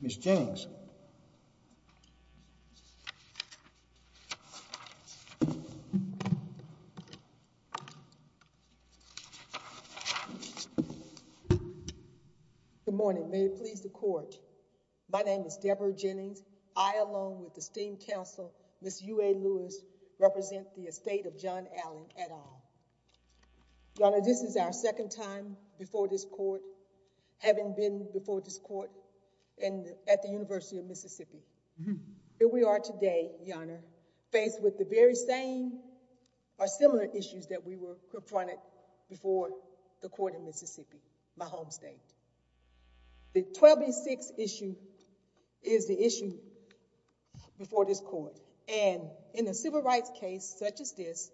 Ms. Jennings. Good morning. May it please the court. My name is Deborah Jennings. I, along with esteemed counsel Ms. UA Lewis, represent the estate of John Allen et al. Your Honor, this is our second time before this court, having been before this court and at the University of Mississippi. Here we are today, Your Honor, faced with the very same or similar issues that we were confronted before the court in Mississippi, my home state. The 1286 issue is the issue before this court, and in a civil rights case such as this,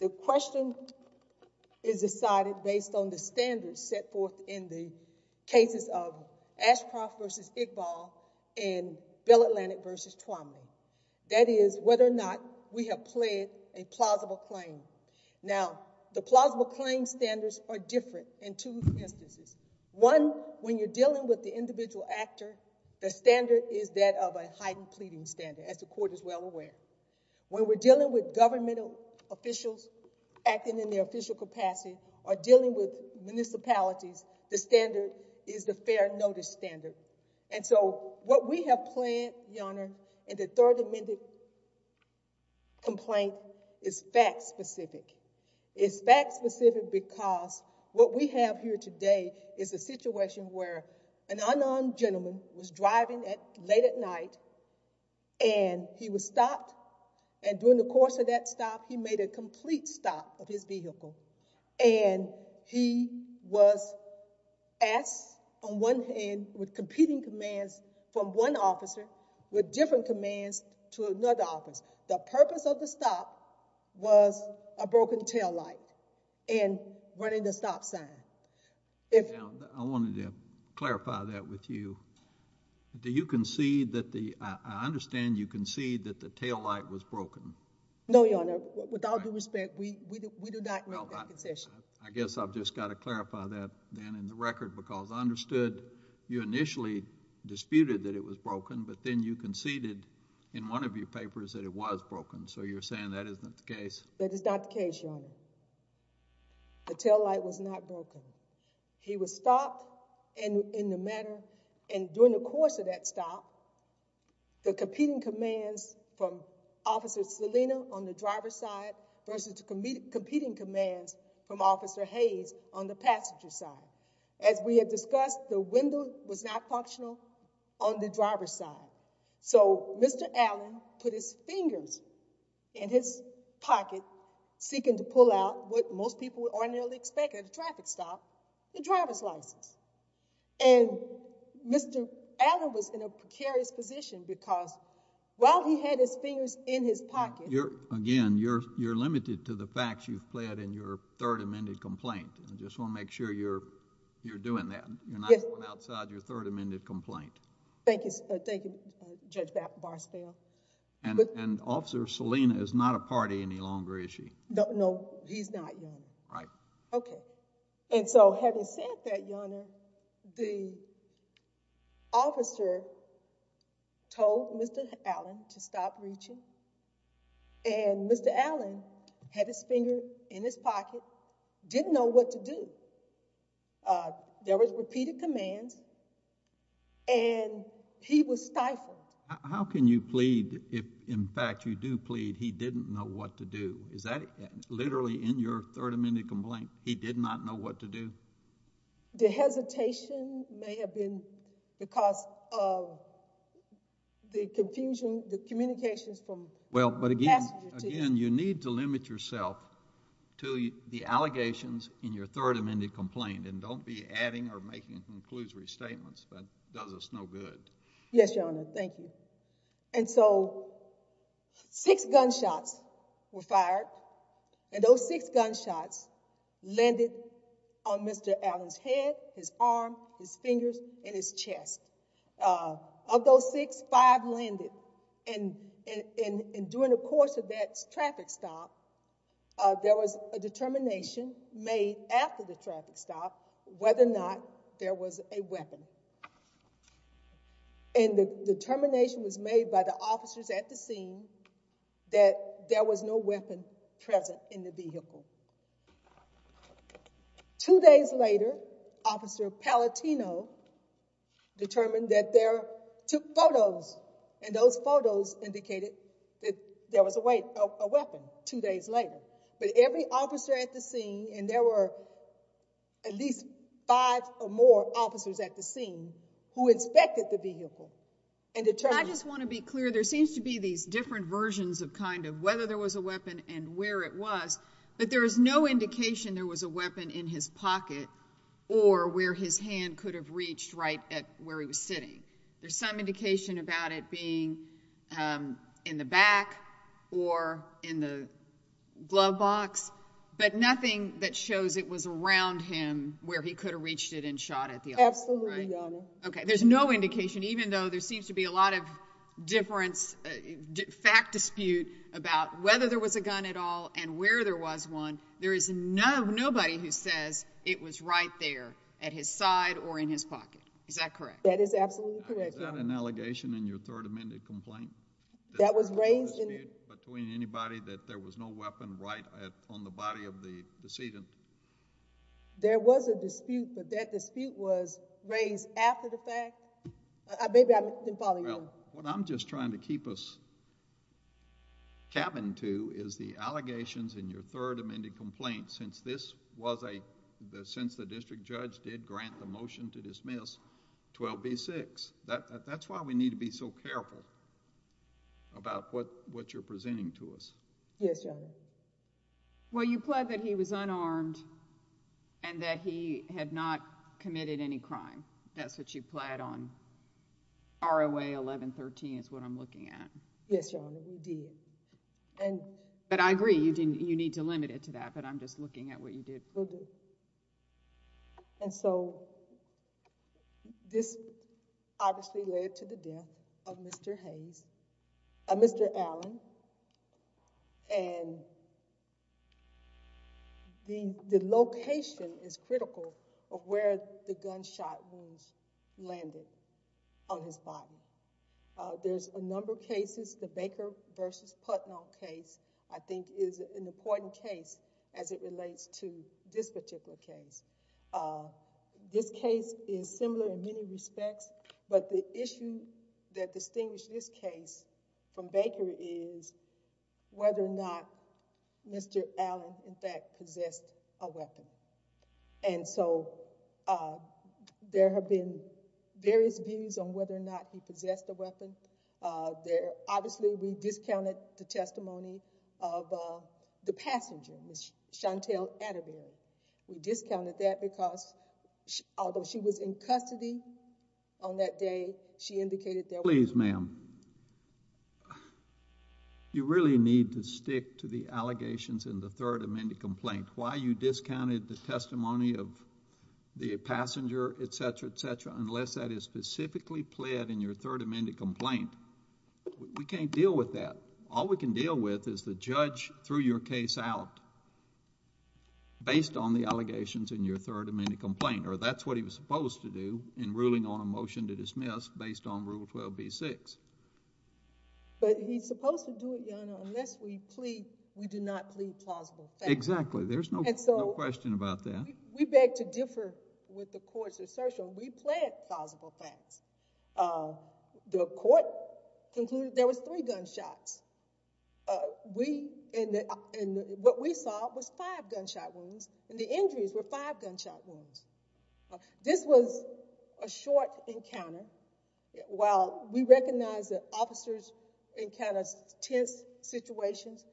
the question is decided based on the standards set forth in the cases of Ashcroft v. Iqbal and Bill Atlantic v. Twombly. That is, whether or not we have pled a plausible claim. Now, the plausible claim standards are different in two instances. One, when you're dealing with the individual actor, the standard is that of a heightened pleading standard, as the court is well aware. When we're dealing with governmental officials acting in their official capacity or dealing with municipalities, the standard is the fair notice standard. And so what we have planned, Your Honor, in the third amended complaint is fact specific. It's fact specific because what we have here today is a situation where an unarmed gentleman was driving late at night and he was stopped. And during the course of that stop, he made a complete stop of his vehicle and he was asked on one hand with competing commands from one officer with different commands to another office. The purpose of the stop was a broken taillight and running the stop sign. Now, I wanted to clarify that with you. Do you concede that the, I understand you concede that the taillight was broken. No, Your Honor. Without due respect, we do not make that concession. I guess I've just got to clarify that then in the record because I understood you initially disputed that it was broken, but then you conceded in one of your papers that it was broken. So you're saying that isn't the case? That is not the case, Your Honor. The taillight was not broken. He was stopped in the matter and during the course of that stop, the competing commands from Officer Selena on the driver's side versus the competing commands from Officer Hayes on the passenger's side. As we have discussed, the window was not functional on the driver's side. So Mr. Allen put his fingers in his pocket seeking to pull out what most people would ordinarily expect at a traffic stop, the driver's license. And Mr. Allen was in a precarious position because while he had his fingers in his pocket. Again, you're limited to the facts you've pled in your third amended complaint. I just want to make sure you're doing that. You're not going outside your third amended complaint. Thank you, Judge Barstow. And Officer Selena is not a party any longer, is she? No, he's not, Your Honor. Right. Okay. And so having said that, Your Honor, the officer told Mr. Allen to stop reaching and Mr. Allen had his finger in his pocket, didn't know what to do. There was repeated commands and he was stifled. How can you plead if in fact you do plead he didn't know what to do? Is that literally in your third amended complaint? He did not know what to do? The hesitation may have been because of the confusion, the communications from... Well, but again, you need to limit yourself to the allegations in your third amended complaint and don't be adding or making conclusory statements. That does us no good. Yes, Your Honor. Thank you. And so six gunshots were fired and those six gunshots landed on Mr. Allen's head, his arm, his fingers, and his chest. Of those six, five landed and during the course of that traffic stop there was a determination made after the traffic stop whether or not there was a weapon. And the determination was made by the officers at the scene that there was no weapon present in the vehicle. Two days later, Officer Palatino determined that there took photos and those photos indicated that there was a weapon two days later. But every officer at the scene and there were at least five or more officers at the scene who inspected the vehicle and determined... I just want to be clear. There seems to be these different versions of kind of whether there was a weapon and where it was, but there is no indication there was a weapon in his pocket or where his hand could have reached right at where he was sitting. There's some indication about it being in the back or in the glove box, but nothing that shows it was around him where he could have reached it and shot at the officer. Absolutely, Your Honor. Okay, there's no indication even though there seems to be a lot of difference, fact dispute about whether there was a gun at all and where there was one. There is no nobody who says it was right there at his side or in his pocket. Is that correct? That is absolutely correct, Your Honor. Is that an allegation in your third amended complaint? That was raised in... A dispute between anybody that there was no weapon right on the body of the decedent? There was a dispute, but that dispute was raised after the fact? Maybe I didn't follow you. Well, what I'm just trying to keep us capping to is the allegations in your third amended complaint since this was a, since the district judge did grant the motion to dismiss 12b-6. That's why we need to be so careful. About what what you're presenting to us. Yes, Your Honor. Well, you plead that he was unarmed and that he had not committed any crime. That's what you plead on ROA 1113 is what I'm looking at. Yes, Your Honor, we did. But I agree you didn't, you need to limit it to that, but I'm just looking at what you did. Will do. And so this obviously led to the death of Mr. Hayes, Mr. Allen, and the location is critical of where the gunshot wounds landed on his body. There's a number of the Baker versus Putnam case I think is an important case as it relates to this particular case. This case is similar in many respects, but the issue that distinguished this case from Baker is whether or not Mr. Allen in fact possessed a weapon. And so, uh, there have been various views on whether or not he possessed a weapon. There obviously we discounted the testimony of the passenger, Ms. Chantelle Atterbury. We discounted that because although she was in custody on that day, she indicated that. Please, ma'am, you really need to stick to the allegations in the third amended complaint. Why you discounted the testimony of the passenger, et cetera, et cetera, unless that is specifically pled in your third amended complaint. We can't deal with that. All we can deal with is the judge threw your case out based on the allegations in your third amended complaint, or that's what he was supposed to do in ruling on a motion to dismiss based on Rule 12b-6. But he's supposed to do it, Your Honor, unless we plead, we do not plead plausible facts. Exactly. There's no question about that. We beg to differ with the court's assertion. We plead plausible facts. The court concluded there was three gunshots. We, and what we saw was five gunshot wounds, and the injuries were five gunshot wounds. This was a short encounter. While we recognize that officers encounter tense situations,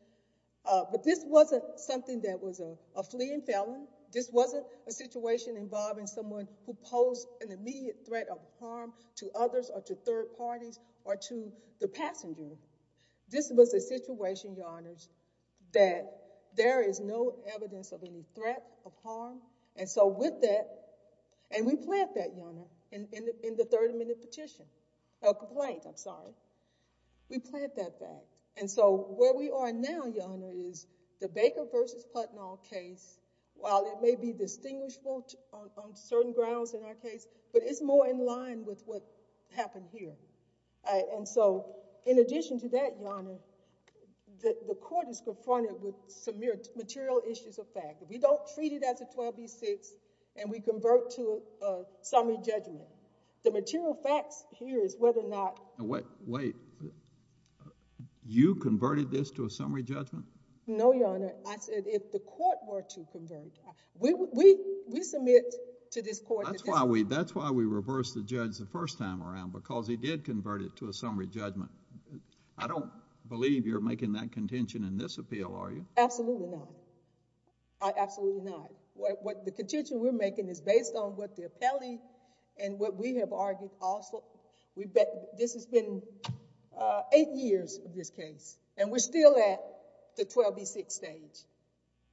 but this wasn't something that was a fleeing felon. This wasn't a situation involving someone who posed an immediate threat of harm to others or to third parties or to the passenger. This was a situation, Your Honors, that there is no evidence of any threat of harm. And so with that, and we pled that, Your Honor, in the third amended petition, a complaint, I'm sorry, we pled that fact. And so where we are now, Your Honor, is the Baker versus Putnam case, while it may be distinguishable on certain grounds in our case, but it's more in line with what happened here. And so in addition to that, Your Honor, the court is confronted with some material issues of fact. If we don't treat it as a 12b-6 and we convert to a summary judgment, the material facts here is whether or not... Wait. You converted this to a summary judgment? No, Your Honor. I said if the court were to convert, we submit to this court... That's why we reversed the judge the first time around, because he did convert it to a summary judgment. I don't believe you're making that contention in this appeal, are you? Absolutely not. Absolutely not. The contention we're making is based on what the appellee and what we have argued also. This has been eight years of this case, and we're still at the 12b-6 stage.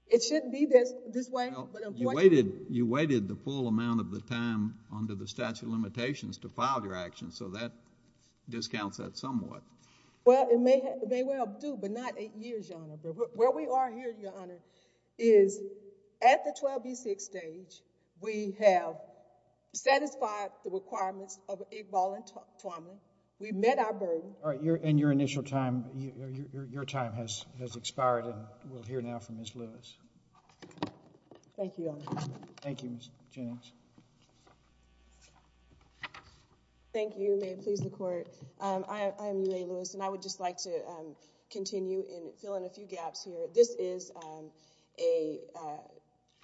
It shouldn't be this way, but I'm pointing... You waited the full amount of the time under the statute of limitations to file your action, so that discounts that somewhat. Well, it may well do, but not eight years, Your Honor. Where we are here, Your Honor, is at the 12b-6 stage, we have satisfied the requirements of Iqbal and Tuamu. We've met our burden... All right. And your initial time, your time has expired, and we'll hear now from Ms. Lewis. Thank you, Your Honor. Thank you, Ms. Jennings. Thank you. May it please the Court. I am Mae Lewis, and I would just like to continue and fill in a few gaps here. This is a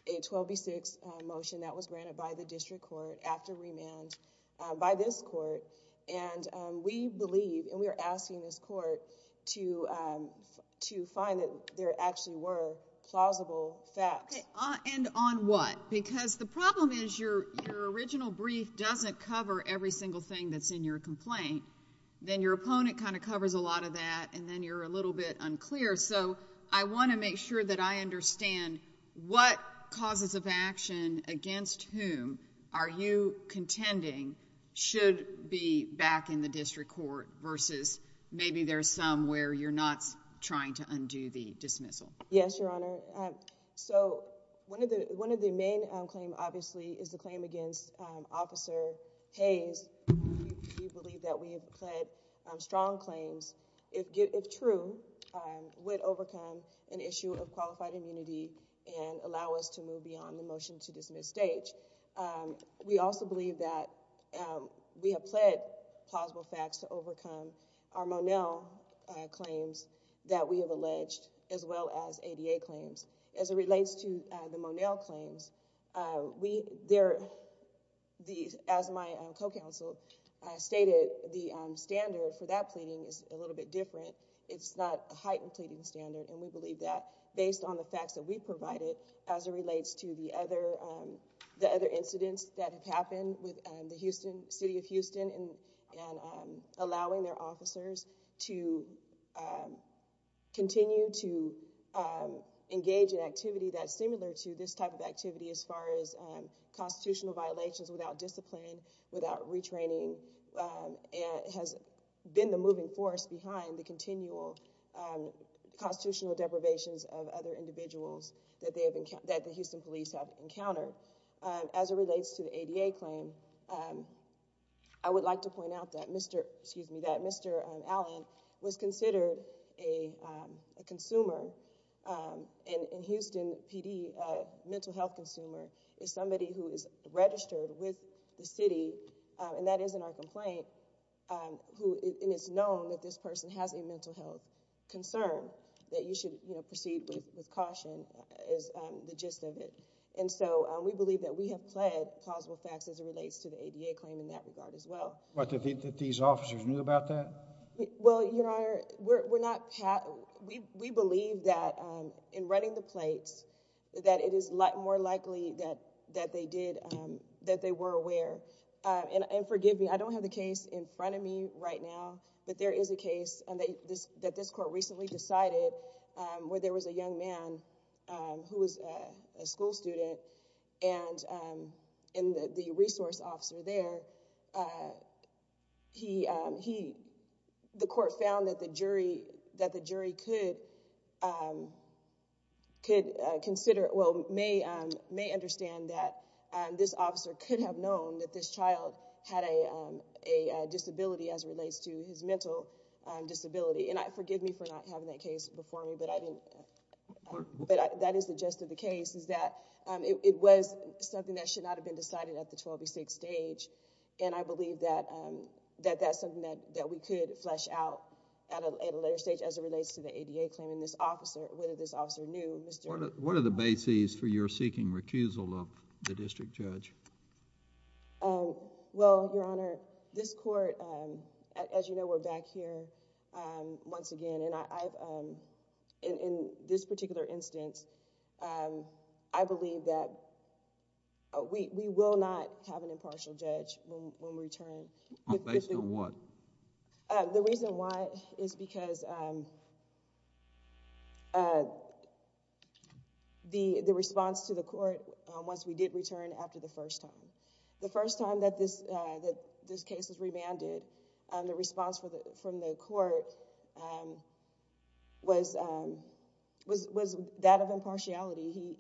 12b-6 motion that was granted by the district court after remand by this court, and we believe and we are asking this court to find that there actually were plausible facts. And on what? Because the problem is your original brief doesn't cover every single thing that's in your complaint. Then your opponent kind of covers a lot of that, and then you're a little bit unclear. So I want to make sure that I understand what causes of action against whom are you contending should be back in the district court versus maybe there's some where you're not trying to undo the dismissal. Yes, Your Honor. So one of the main claims, obviously, is the claim against Officer Hayes. We believe that we have pled strong claims, if true, would overcome an issue of qualified immunity and allow us to move beyond the motion to dismiss stage. We also believe that we have pled plausible facts to overcome our Monel claims that we have alleged, as well as ADA claims. As it relates to the Monel claims, as my co-counsel stated, the standard for that pleading is a little bit different. It's not a heightened pleading standard, and we believe that based on the facts that we provided as it relates to the other incidents that have happened with City of Houston and allowing their officers to continue to engage in activity that's similar to this type of activity as far as constitutional violations without discipline, without retraining, and has been the moving force behind the continual constitutional deprivations of other individuals that the Houston police have encountered. As it relates to the ADA claim, I would like to point out that Mr. Allen was considered a consumer, and Houston PD, a mental health consumer, is somebody who is registered with the city, and that is in our complaint, and it's known that this person has a mental health concern that you should proceed with caution is the gist of it. And so we believe that we have pled plausible facts as it relates to the ADA claim in that regard as well. What, that these officers knew about that? Well, Your Honor, we believe that in running the plates that it is more likely that they were aware, and forgive me, I don't have the case in front of me right now, but there is a case that this court recently decided where there was a young man who was a school student, and the resource officer there, he, the court found that the jury could consider, well, may understand that this officer could have known that this child had a disability as it relates to his mental disability, and forgive me for not having that case before me, but I didn't, but that is the gist of the case is that it was something that should not have been decided at the 12B6 stage, and I believe that that's something that we could flesh out at a later stage as it relates to the ADA claim and this officer, whether this officer knew. What are the bases for your seeking recusal of the district judge? Well, Your Honor, this court, as you know, we're back here once again, and I, in this particular instance, I believe that we will not have an impartial judge when we return. Based on what? The reason why is because the response to the court once we did return after the first time. The first time that this case was remanded, the response from the court was that of impartiality.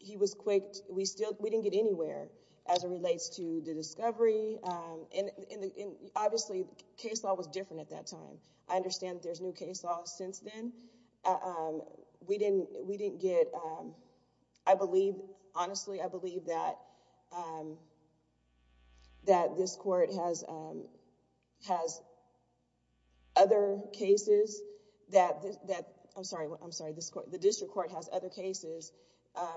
He was quick, we still, we didn't get anywhere as it relates to the discovery, and obviously, case law was different at that time. I understand that there's new case laws since then. We didn't get, I believe, honestly, I believe that this court has other cases that... I'm sorry, the district court has other cases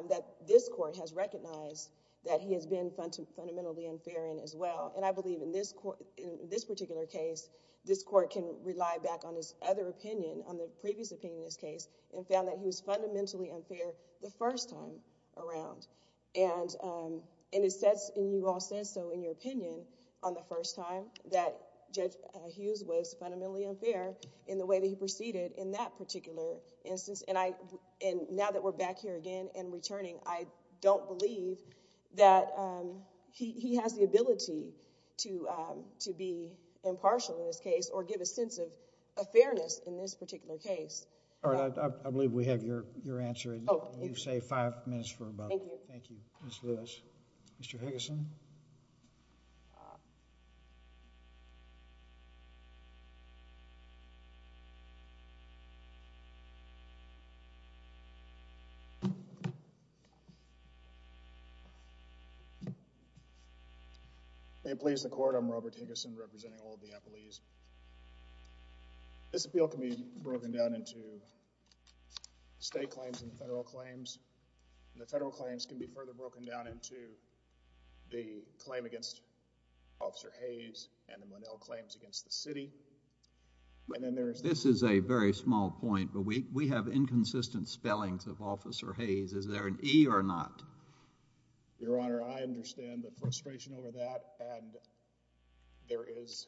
that this court has recognized that he has been fundamentally unfair in as well, and I believe in this particular case, this court can rely back on his other opinion, on the previous opinion in this case, and found that he was fundamentally unfair the first time around. You all said so in your opinion on the first time that Judge Hughes was fundamentally unfair in the way that he proceeded in that particular instance, and now that we're back here again and returning, I don't believe that he has the ability to be impartial in this case, or give a sense of fairness in this particular case. All right, I believe we have your answer, and you say five minutes for a vote. Thank you. Thank you, Ms. Lewis. Mr. Higgison? May it please the court, I'm Robert Higgison, representing all of the appellees. This appeal can be broken down into state claims and federal claims, and the federal claims can be further broken down into the claim against Officer Hayes and the Monell claims against the city, and then there's... This is a very small point, but we have inconsistent spellings of Officer Hayes. Is there an E or not? Your Honor, I understand the frustration over that, and there is...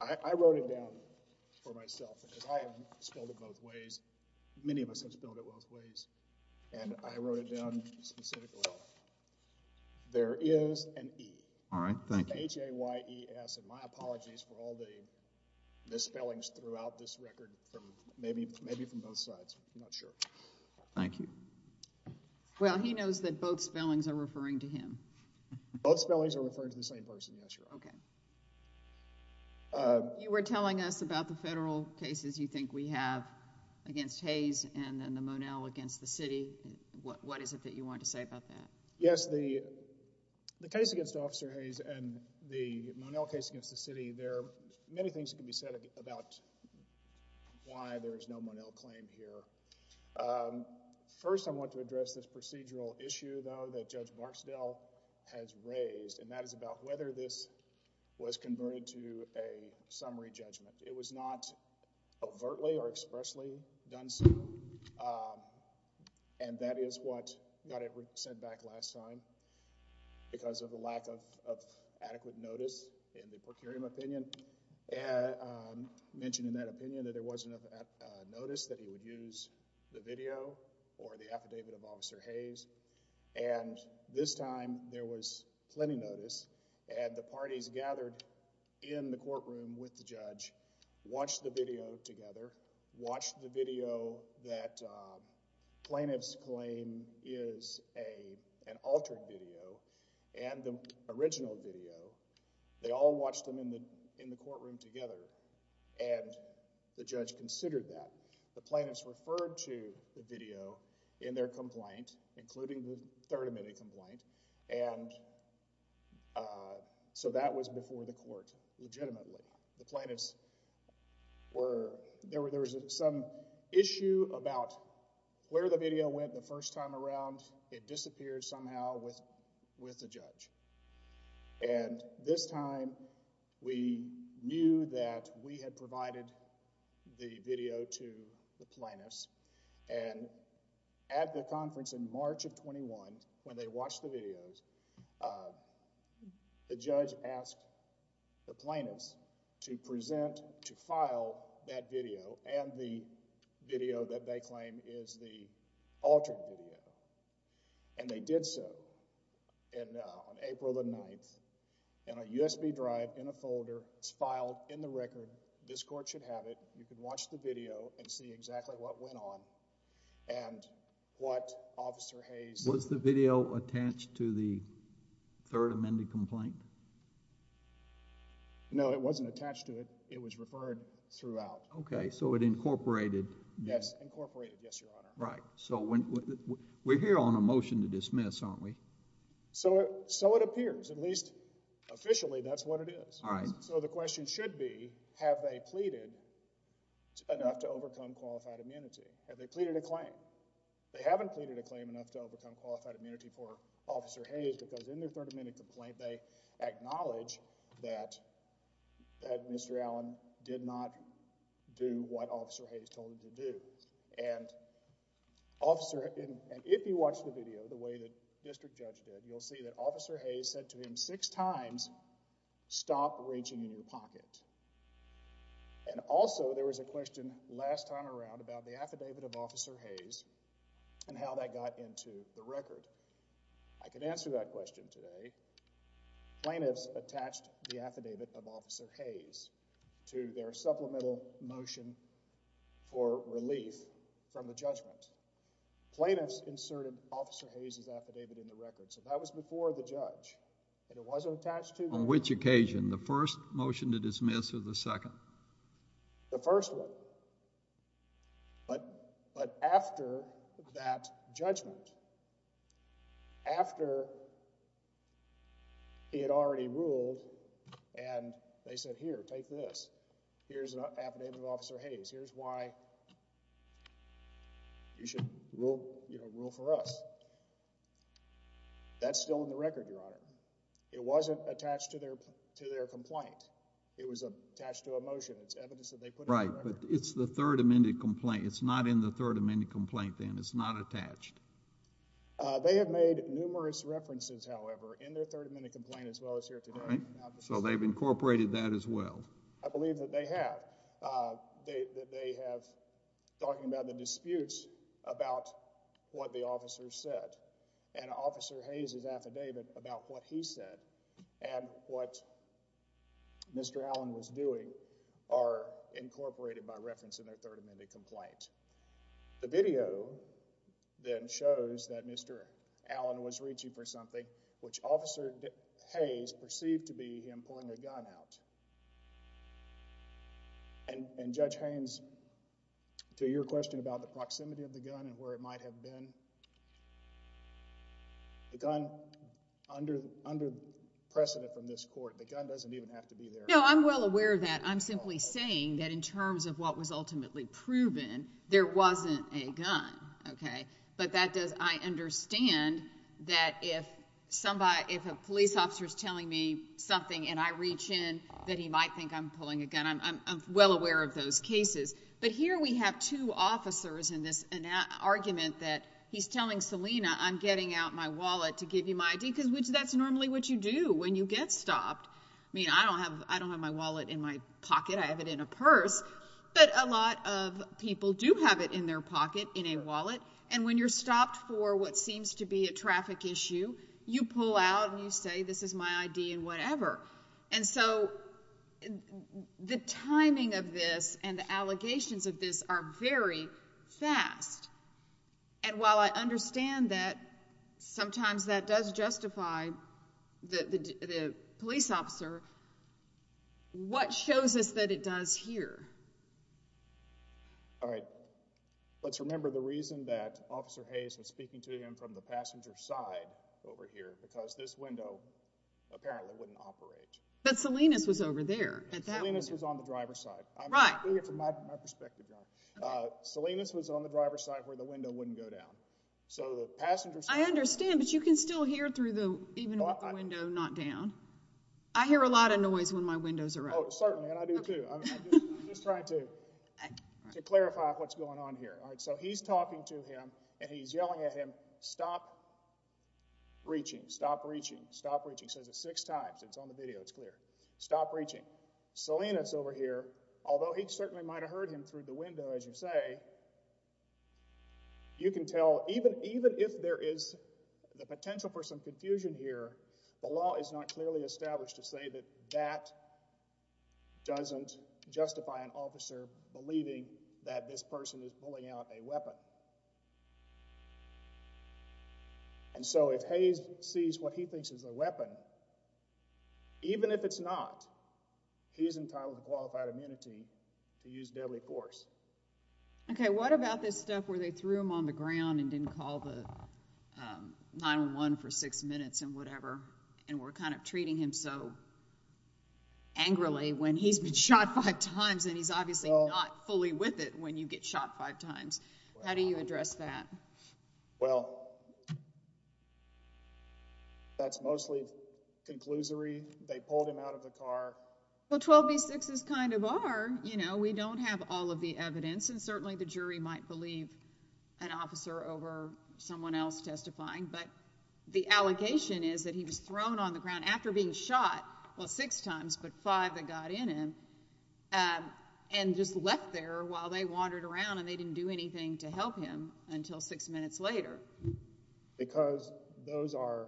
I wrote it down for myself, because I have spelled it both ways. Many of us have spelled it both ways, and I wrote it down specifically. There is an E. All right, thank you. H-A-Y-E-S, and my apologies for all the spellings throughout this record, from maybe from both sides. I'm not sure. Thank you. Well, he knows that both spellings are referring to him. Both spellings are referring to the same person, yes, Your Honor. Okay. You were telling us about the federal cases you think we have against Hayes, and then the Monell against the city. What is it that you want to say about that? Yes, the case against Officer Hayes and the Monell case against the city, there are many things that can be said about why there is no Monell claim here. First, I want to address this procedural issue, though, that Judge Barksdale has raised, and that is about whether this was converted to a summary judgment. It was not overtly or expressly done so, and that is what got it sent back last time because of the lack of adequate notice in the procuratorial opinion. He mentioned in that opinion that there wasn't enough notice that he would use the video or the affidavit of Officer Hayes, and this time there was plenty of notice, and the parties gathered in the courtroom with the judge, watched the video together, watched the video that plaintiff's claim is an altered video, and the original video. They all watched them in the courtroom together, and the judge considered that. The plaintiffs referred to the video in their complaint, including the third amendment complaint, and so that was before the court legitimately. The plaintiffs were, there was some issue about where the video went the first time around. It disappeared somehow with the judge, and this time we knew that we had provided the video to the plaintiffs, and at the conference in March of 21, when they watched the videos, the judge asked the plaintiffs to present, to file that video and the video that they claim is the altered video, and they did so on April the 9th in a USB drive in a folder. It's filed in the record. This court should have it. You can watch the video and see exactly what went on and what Officer Hayes... Was the video attached to the third amended complaint? No, it wasn't attached to it. It was referred throughout. Okay, so it incorporated. Yes, incorporated. Yes, Your Honor. Right, so we're here on a motion to dismiss, aren't we? So it appears, at least officially, that's what it is. All right. So the question should be, have they pleaded enough to overcome qualified immunity? Have they pleaded a claim? They haven't pleaded a claim enough to overcome qualified immunity for Officer Hayes because in their third amendment complaint, they acknowledge that Mr. Allen did not do what Officer Hayes told him to do. And if you watch the video the way that District Judge did, you'll see that Officer Hayes said to him six times, stop reaching in your pocket. And also there was a question last time around about the affidavit of Officer Hayes and how that got into the record. I can answer that question today. Plaintiffs attached the affidavit of Officer Hayes to their supplemental motion for relief from the judgment. Plaintiffs inserted Officer Hayes' affidavit in the record, so that was before the judge, and it wasn't attached to the record. On which occasion, the first motion to dismiss or the second? The first one. But after that judgment, after it already ruled and they said, here, take this. Here's an affidavit of Officer Hayes. Here's why you should rule for us. That's still in the record, Your Honor. It wasn't attached to their complaint. It was attached to a motion. It's evidence that they put in the record. Right, but it's the third amended complaint. It's not in the third amended complaint, then. It's not attached. They have made numerous references, however, in their third amended complaint as well as here today. Right, so they've incorporated that as well. I believe that they have. They have talking about the disputes about what the officer said and Officer Hayes' affidavit about what he said and what Mr. Allen was doing are incorporated by reference in their third amended complaint. The video, then, shows that Mr. Allen was reaching for something, which Officer Hayes perceived to be him pulling a gun out. And Judge Haynes, to your question about the proximity of the gun and where it might have been, the gun, under precedent from this court, the gun doesn't even have to be there. No, I'm well aware of that. I'm simply saying that in terms of what was proven, there wasn't a gun. But I understand that if a police officer is telling me something and I reach in, that he might think I'm pulling a gun. I'm well aware of those cases. But here we have two officers in this argument that he's telling Selena, I'm getting out my wallet to give you my ID, because that's normally what you do when you get stopped. I mean, I don't have my wallet in my pocket. I have it in a purse. But a lot of people do have it in their pocket, in a wallet. And when you're stopped for what seems to be a traffic issue, you pull out and you say, this is my ID and whatever. And so the timing of this and the allegations of this are very fast. And while I understand that sometimes that does justify the police officer, what shows us that it does here? All right. Let's remember the reason that Officer Hayes was speaking to him from the passenger side over here, because this window apparently wouldn't operate. But Salinas was over there. Salinas was on the driver's side. I'm doing it from my perspective, John. Salinas was on the passenger side. I understand, but you can still hear through the window, not down. I hear a lot of noise when my windows are open. Oh, certainly. And I do, too. I'm just trying to clarify what's going on here. All right. So he's talking to him, and he's yelling at him, stop reaching. Stop reaching. Stop reaching. He says it six times. It's on the video. It's clear. Stop reaching. Salinas over here, although he certainly might have heard him through the window, as you say, you can tell even if there is the potential for some confusion here, the law is not clearly established to say that that doesn't justify an officer believing that this person is pulling out a weapon. And so if Hayes sees what he thinks is a weapon, even if it's not, he's entitled to qualified immunity to use deadly force. Okay. What about this stuff where they threw him on the ground and didn't call the 911 for six minutes and whatever, and we're kind of treating him so angrily when he's been shot five times, and he's obviously not fully with it when you get shot five times. How do you address that? Well, that's mostly conclusory. They pulled him out of the car. Well, 12B6s kind of are. You know, we don't have all of the evidence, and certainly the jury might believe an officer over someone else testifying, but the allegation is that he was thrown on the ground after being shot, well, six times, but five that got in him, and just left there while they wandered around, and they didn't do anything to help him until six minutes later. Because those are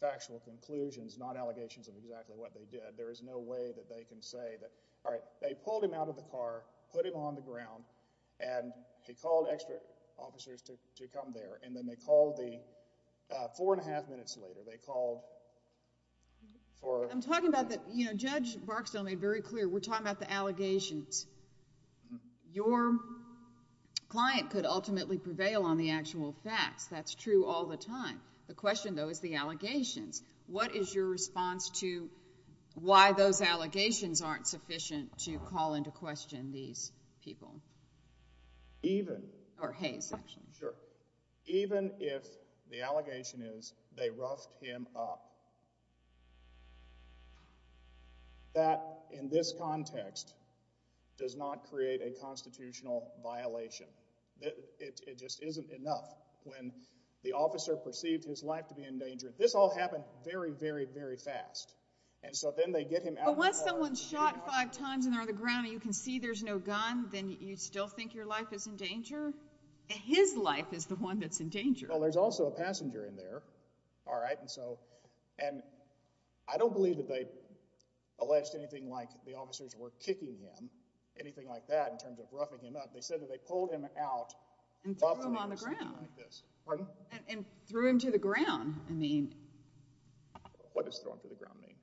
factual conclusions, not allegations of exactly what they did. There is no way that they can say that, all right, they pulled him out of the car, put him on the ground, and they called extra officers to come there, and then they called the, four and a half minutes later, they called for... I'm talking about the, you know, Judge Barksdale made very clear, we're talking about the allegations. Your client could ultimately prevail on the actual facts. That's true all the time. The question, though, is the allegations. What is your response to why those allegations aren't sufficient to call into question these people? Even... Or Hayes, actually. Sure. Even if the allegation is they roughed him up, that, in this context, does not create a constitutional violation. It just isn't enough. When the officer perceived his life to be in danger, this all happened very, very, very fast, and so then they get him out... But once someone's shot five times, and they're on the ground, and you can see there's no gun, then you still think your life is in danger? His life is the one that's in danger. Well, there's also a passenger in there, all right, and so, and I don't believe that they alleged anything like the officers were kicking him, anything like that, in terms of roughing him up. They said that they pulled him out... And threw him on the ground. Pardon? And threw him to the ground. I mean... What does throw him to the ground mean?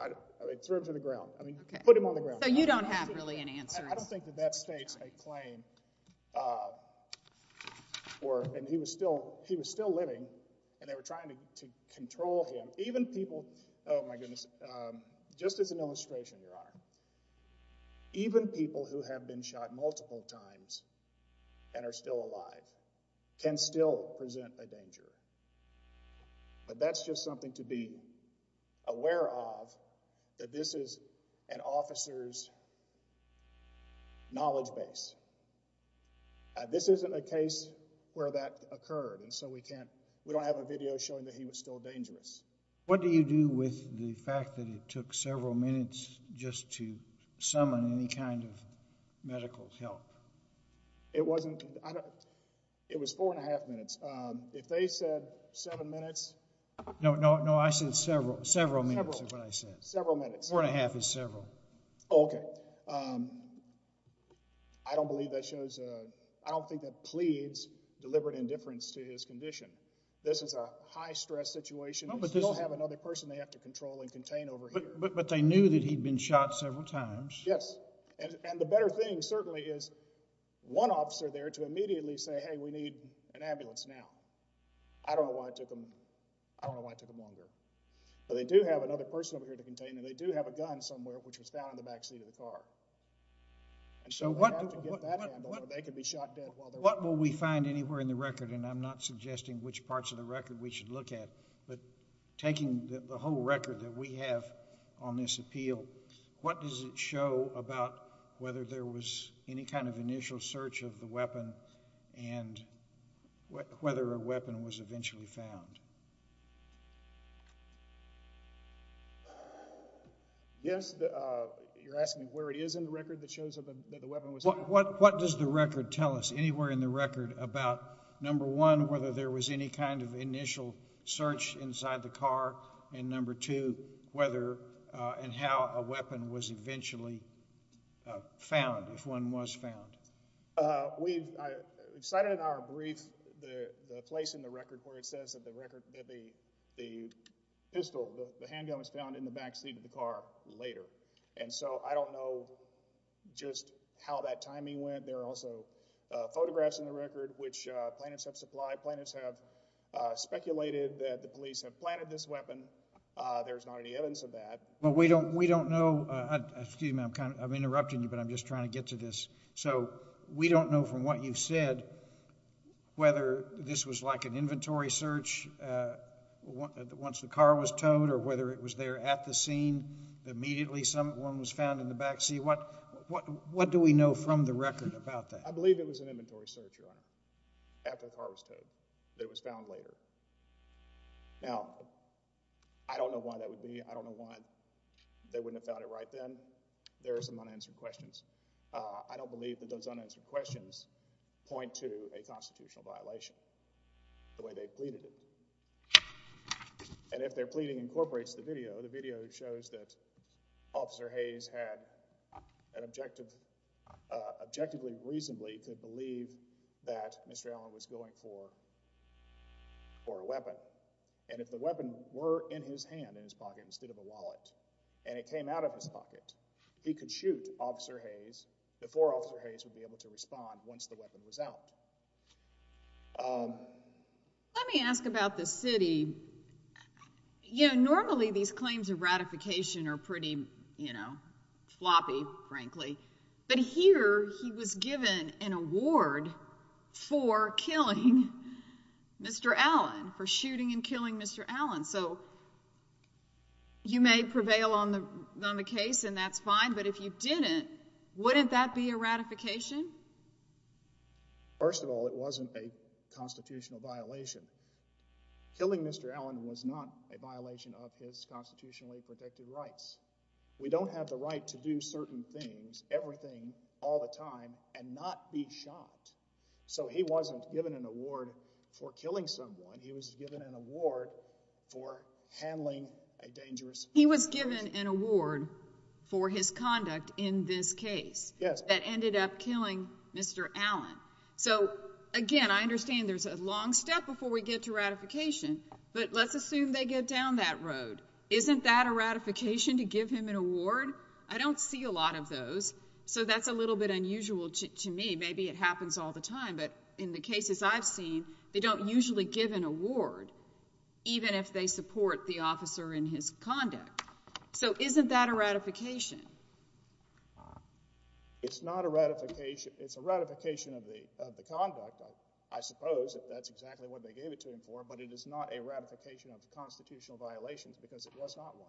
I mean, threw him to the ground. I mean, put him on the ground. So you don't have really any answers. I don't think that that states a claim, or, and he was still, he was still living, and they were trying to control him. Even people, oh my goodness, just as an illustration, Your Honor, even people who have been shot multiple times, and are still alive, can still present a danger. But that's just something to be aware of, that this is an officer's knowledge base. This isn't a case where that occurred, and so we can't, we don't have a video showing that he was still dangerous. What do you do with the fact that it took several minutes just to summon any kind of medical help? It wasn't, I don't, it was four and a half minutes. If they said seven minutes... No, no, no, I said several, several minutes is what I said. Several minutes. Four and a half is several. Okay. I don't believe that shows, I don't think that pleads deliberate indifference to his condition. This is a high stress situation. They don't have another person they have to control and contain over here. But they knew that he'd been shot several times. Yes, and the better thing certainly is one officer there to immediately say, hey, we need an ambulance now. I don't know why it took them, I don't know why it took them longer. But they do have another person over here to contain, and they do have a gun somewhere, which was found in the back seat of the car. And so they don't have to get that ambulance, or they could be shot dead while they're... What will we find anywhere in the record, and I'm not suggesting which parts of the record we should look at, but taking the whole record that we have on this appeal, what does it show about whether there was any kind of initial search of the weapon, and whether a weapon was eventually found? Yes, you're asking where it is in the record that shows that the weapon was found? What does the record tell us, anywhere in the record about, number one, whether there was any kind of initial search inside the car, and number two, whether and how a weapon was eventually found, if one was found? We've cited in our brief the place in the record where it says that the pistol, the handgun was found in the back seat of the car later. And so I don't know just how that timing went. There are also photographs in the record which plaintiffs have supplied. Plaintiffs have speculated that the police have planted this weapon. There's not any evidence of that. But we don't know, excuse me, I'm interrupting you, but I'm just trying to get to this. So we don't know from what you've said whether this was like an inventory search once the car was towed, or whether it was there at the scene, immediately someone was found in the back seat. What do we know from the record about that? I believe it was an inventory search, Your Honor, after the car was towed, that it was found later. Now, I don't know why that would be. I don't know why they wouldn't have found it right then. There are some unanswered questions. I don't believe that those unanswered questions point to a constitutional violation the way they've pleaded it. And if their pleading incorporates the video, the video shows that Officer Hayes had an objective, objectively, reasonably to believe that Mr. Allen was going for a weapon. And if the weapon were in his hand, in his pocket, instead of a wallet, and it came out of his pocket, he could shoot Officer Hayes before Officer Hayes would be able to respond once the weapon was out. Let me ask about the city. You know, normally these claims of ratification are pretty, you know, floppy, frankly. But here he was given an award for killing Mr. Allen, for shooting and killing Mr. Allen. So you may prevail on the case, and that's fine. But if you didn't, wouldn't that be a ratification? First of all, it wasn't a constitutional violation. Killing Mr. Allen was not a violation of his constitutionally protected rights. We don't have the right to do certain things, everything, all the time and not be shot. So he wasn't given an award for killing someone. He was given an award for handling a dangerous He was given an award for his conduct in this case that ended up killing Mr. Allen. So again, I understand there's a long step before we get to ratification. But let's assume they get down that road. Isn't that a ratification to give him an award? I don't see a lot of those. So that's a little bit unusual to me. Maybe it happens all the time. But in the cases I've seen, they don't usually give an award, even if they support the officer in his conduct. So isn't that a ratification? It's not a ratification. It's a ratification of the conduct, I suppose, if that's exactly what they gave it to him for. But it is not a ratification of the constitutional violations because it was not one.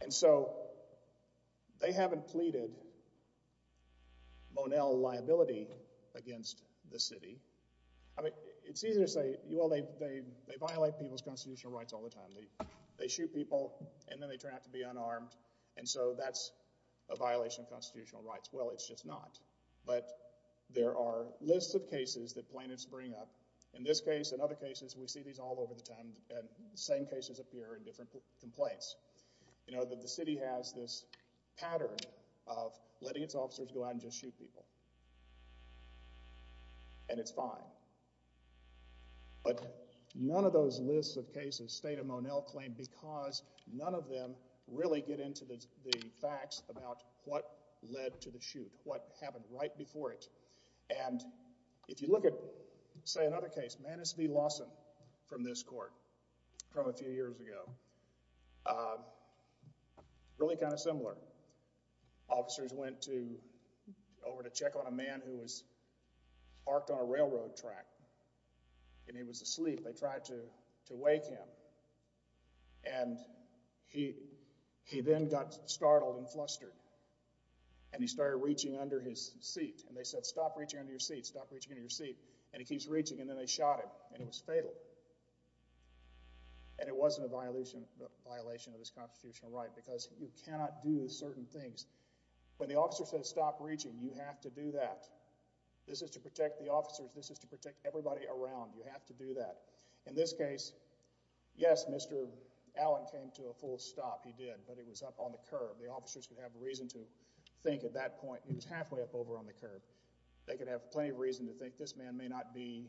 And so they haven't pleaded Monell liability against the city. I mean, it's easy to say, well, they violate people's constitutional rights all the time. They shoot people and then they turn out to be unarmed. And so that's a violation of constitutional rights. Well, it's just not. But there are lists of cases that plaintiffs bring up. In this case and other cases, we see these all over the time. And the same cases appear in different complaints. You know, the city has this pattern of letting its officers go out and just shoot people. And it's fine. But none of those lists of cases state a Monell claim because none of them really get into the facts about what led to the shoot, what happened right before it. And if you look at, say, another case, Manus v. Lawson from this court from a few years ago, a man who was parked on a railroad track. And he was asleep. They tried to wake him. And he then got startled and flustered. And he started reaching under his seat. And they said, stop reaching under your seat. Stop reaching under your seat. And he keeps reaching. And then they shot him. And it was fatal. And it wasn't a violation of his constitutional right because you cannot do certain things. When the officer says, stop reaching, you have to do that. This is to protect the officers. This is to protect everybody around. You have to do that. In this case, yes, Mr. Allen came to a full stop. He did. But he was up on the curb. The officers could have reason to think at that point he was halfway up over on the curb. They could have plenty of reason to think this man may not be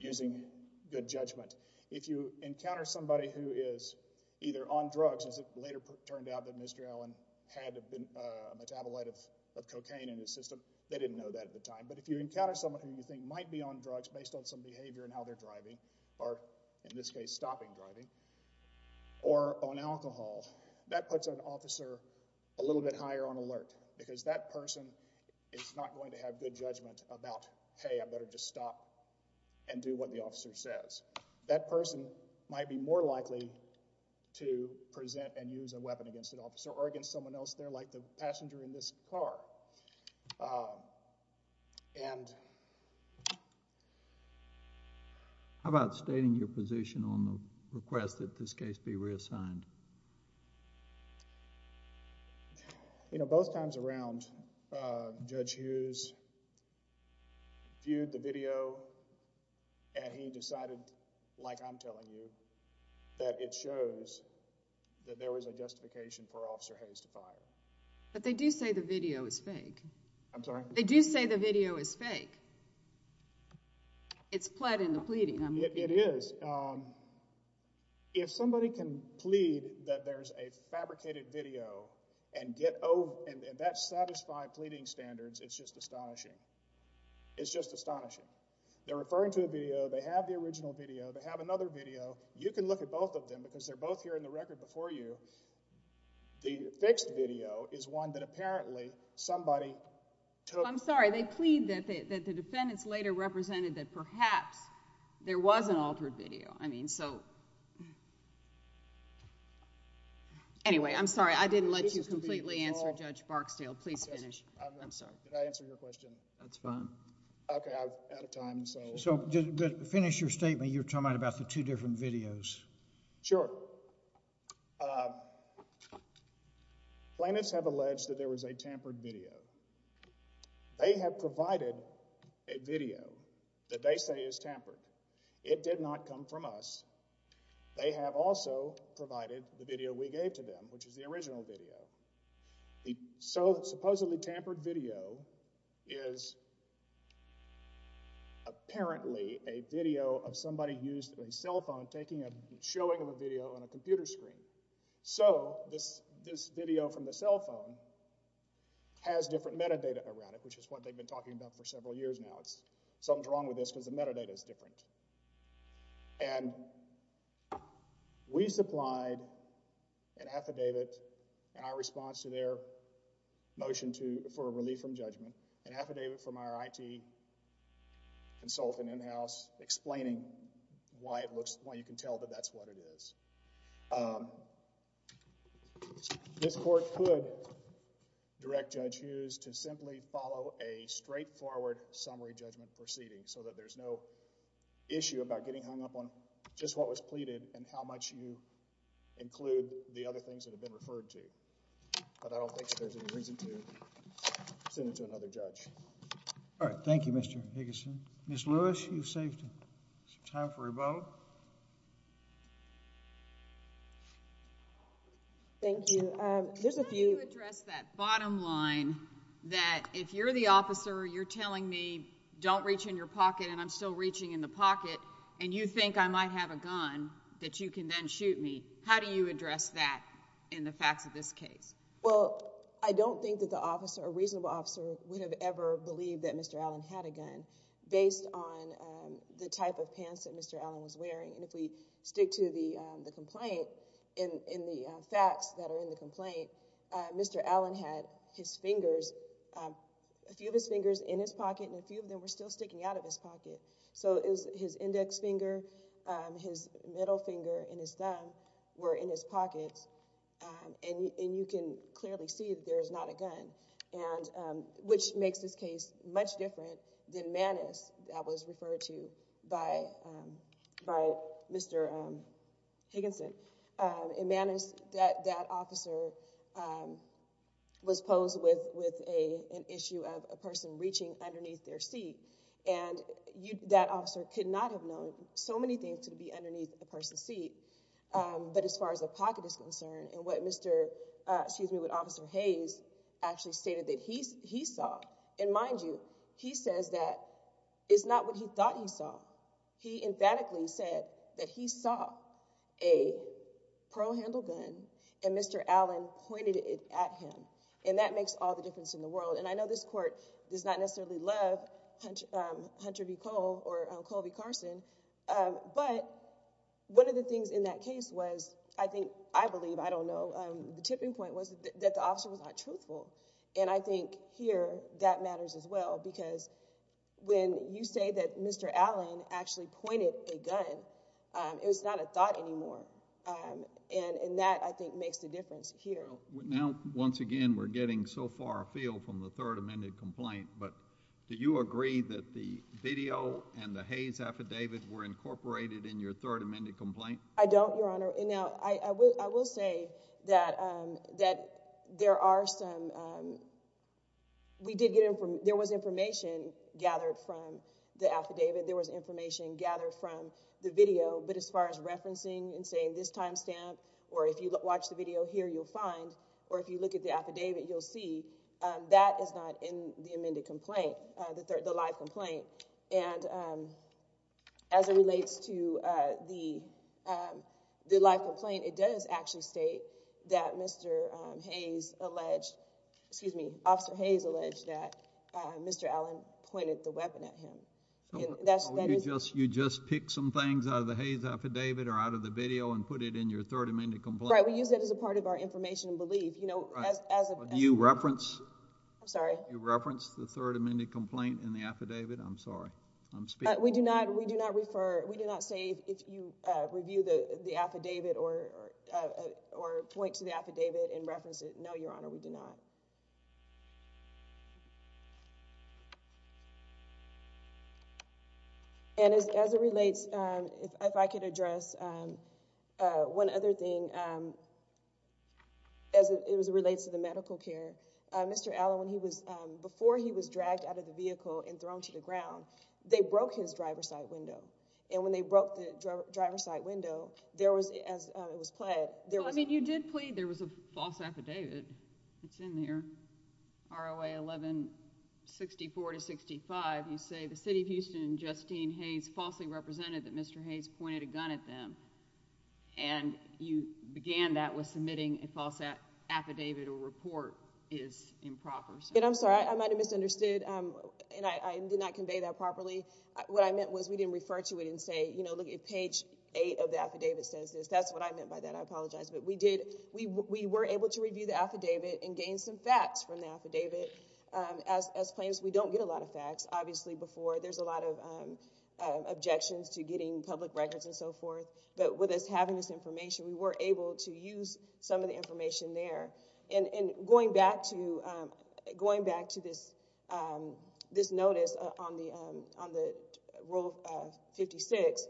using good judgment. If you encounter somebody who is either on drugs, as it later turned out that Mr. Allen had a metabolite of cocaine in his system, they didn't know that at the time. But if you encounter someone who you think might be on drugs based on some behavior and how they're driving, or in this case, stopping driving, or on alcohol, that puts an officer a little bit higher on alert because that person is not going to have good judgment about, hey, I better just stop and do what the officer says. That person might be more likely to present and use a weapon against an officer or against someone else there like the passenger in this car. How about stating your position on the request that this case be reassigned? You know, both times around, Judge Hughes viewed the video and he decided, like I'm telling you, that it shows that there was a justification for Officer Hayes to fire. But they do say the video is fake. I'm sorry? They do say the video is fake. It's pled in the pleading. It is. If somebody can plead that there's a fabricated video and that's satisfied pleading standards, it's just astonishing. It's just astonishing. They're referring to a video, they have the original video, they have another video. You can look at both of them because they're both here in the record before you. The fixed video is one that apparently somebody took. I'm sorry, they plead that the defendants later represented that perhaps there was an altered video. I mean, so... Anyway, I'm sorry, I didn't let you completely answer Judge Barksdale. Please finish. I'm sorry. Did I answer your question? That's fine. Okay, I'm out of time, so... So, finish your statement. You were talking about the two different videos. Sure. Plaintiffs have alleged that there was a tampered video. They have provided a video that they say is tampered. It did not come from us. They have also provided the video we gave to them, which is the original video. The supposedly tampered video is apparently a video of somebody used a cell phone taking a showing of a video on a computer screen. So, this video from the cell phone has different metadata around it, which is what they've been talking about for several years now. It's... something's wrong with this because the metadata is different. And we supplied an affidavit in our response to their motion for a relief from judgment, an affidavit from our IT consultant in-house explaining why it looks... why you can tell that that's what it is. Um, this Court could direct Judge Hughes to simply follow a straightforward summary judgment proceeding so that there's no issue about getting hung up on just what was pleaded and how much you include the other things that have been referred to. But I don't think there's any reason to send it to another judge. All right. Thank you, Mr. Higginson. Ms. Lewis, you've saved some time for rebuttal. Thank you. Um, there's a few... How do you address that bottom line that if you're the officer, you're telling me don't reach in your pocket and I'm still reaching in the pocket and you think I might have a gun that you can then shoot me? How do you address that in the facts of this case? Well, I don't think that the officer, a reasonable officer, would have ever believed that Mr. Allen had a gun based on the type of pants that Mr. Allen was wearing. And if we stick to the complaint, in the facts that are in the complaint, Mr. Allen had his fingers, a few of his fingers in his pocket and a few of them were still sticking out of his pocket. So his index finger, his middle finger, and his thumb were in his pockets. And you can clearly see that there is not a gun, which makes this case much different than Mannis that was referred to by Mr. Higginson. In Mannis, that officer was posed with an issue of a person reaching underneath their seat and that officer could not have known so many things to be underneath a person's seat. But as far as a pocket is concerned and what Mr., excuse me, what Officer Hayes actually stated that he saw, and mind you, he says that it's not what he thought he saw. He emphatically said that he saw a pro-handle gun and Mr. Allen pointed it at him. And that makes all the difference in the world. And I know this court does not necessarily love Hunter B. Cole or Colby Carson. But one of the things in that case was, I think, I believe, I don't know, the tipping point was that the officer was not truthful. And I think here that matters as well because when you say that Mr. Allen actually pointed a gun, it was not a thought anymore. And that, I think, makes the difference here. Now, once again, we're getting so far afield from the third amended complaint, but do you agree that the video and the Hayes affidavit were incorporated in your third amended complaint? I don't, Your Honor. Now, I will say that there are some, we did get, there was information gathered from the affidavit. There was information gathered from the video. But as far as referencing and saying this timestamp, or if you watch the video here, you'll find, or if you look at the affidavit, you'll see that is not in the amended complaint, the live complaint. And as it relates to the live complaint, it does actually state that Mr. Hayes alleged, excuse me, Officer Hayes alleged that Mr. Allen pointed the weapon at him. You just picked some things out of the Hayes affidavit or out of the video and put it in your third amended complaint? Right, we use that as a part of our information and belief. Do you reference the third amended complaint in the affidavit? I'm sorry. We do not refer, we do not say if you review the affidavit or point to the affidavit and reference it. No, Your Honor, we do not. And as it relates, if I could address one other thing, as it relates to the medical care, Mr. Allen, when he was, before he was dragged out of the vehicle and thrown to the ground, they broke his driver's side window. And when they broke the driver's side window, there was, as it was pled, there was, I mean, you did plead there was a false affidavit. It's in there, ROA 1164 to 65. You say the City of Houston and Justine Hayes falsely represented that Mr. Hayes pointed a gun at them. And you began that with submitting a false affidavit or report is improper. I'm sorry, I might have misunderstood and I did not convey that properly. What I meant was we didn't refer to it and say, you know, look at page eight of the affidavit says this. That's what I meant by that. I apologize. But we did, we were able to review the affidavit and gain some facts from the affidavit. As plaintiffs, we don't get a lot of facts. Obviously, before there's a lot of objections to getting public records and so forth. But with us having this information, we were able to use some of the information there. And going back to, going back to this, this notice on the, on the Rule 56,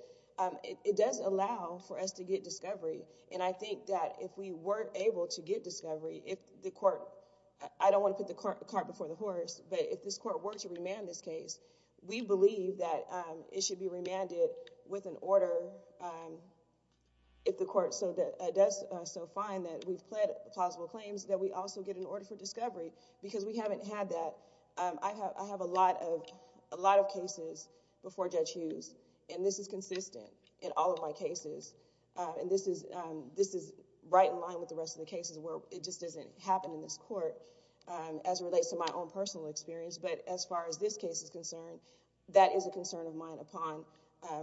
it does allow for us to get discovery. And I think that if we weren't able to get discovery, if the court, I don't want to put the cart before the horse, but if this court were to remand this case, we believe that it should be remanded with an order if the court does so find that we've pled plausible claims, that we also get an order for discovery because we haven't had that. I have, I have a lot of, a lot of cases before Judge Hughes and this is consistent in all of my cases. And this is, this is right in line with the rest of the cases where it just doesn't happen in this court as it relates to my own personal experience. But as far as this case is concerned, that is a concern of mine upon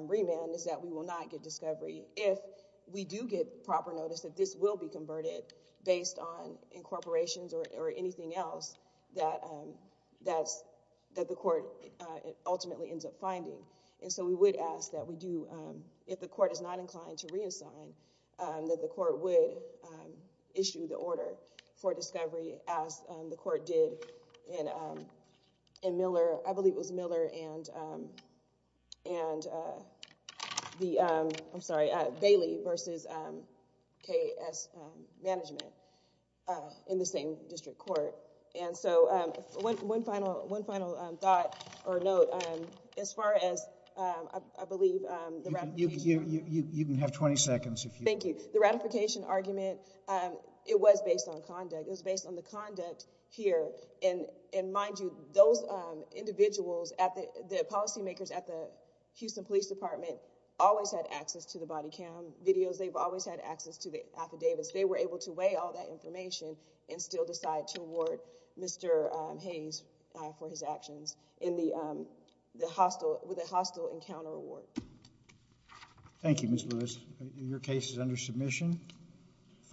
remand is that we will not get discovery if we do get proper notice that this will be converted based on incorporations or anything else that, that's, that the court ultimately ends up finding. And so we would ask that we do, if the court is not inclined to reassign, that the court would issue the order for discovery as the court did in, in Miller, I believe it was Miller and, and the, I'm sorry, Bailey versus K.S. Management in the same district court. And so one, one final, one final thought or note, as far as I believe, you can have 20 seconds. Thank you. The ratification argument, it was based on conduct. It was based on the conduct here. And, and mind you, those individuals at the, the policymakers at the Houston Police Department always had access to the body cam videos. They've always had access to the affidavits. They were able to weigh all that information and still decide to award Mr. Hayes for his actions in the, the hostile, with a hostile encounter award. Thank you, Ms. Lewis. Your case is under submission.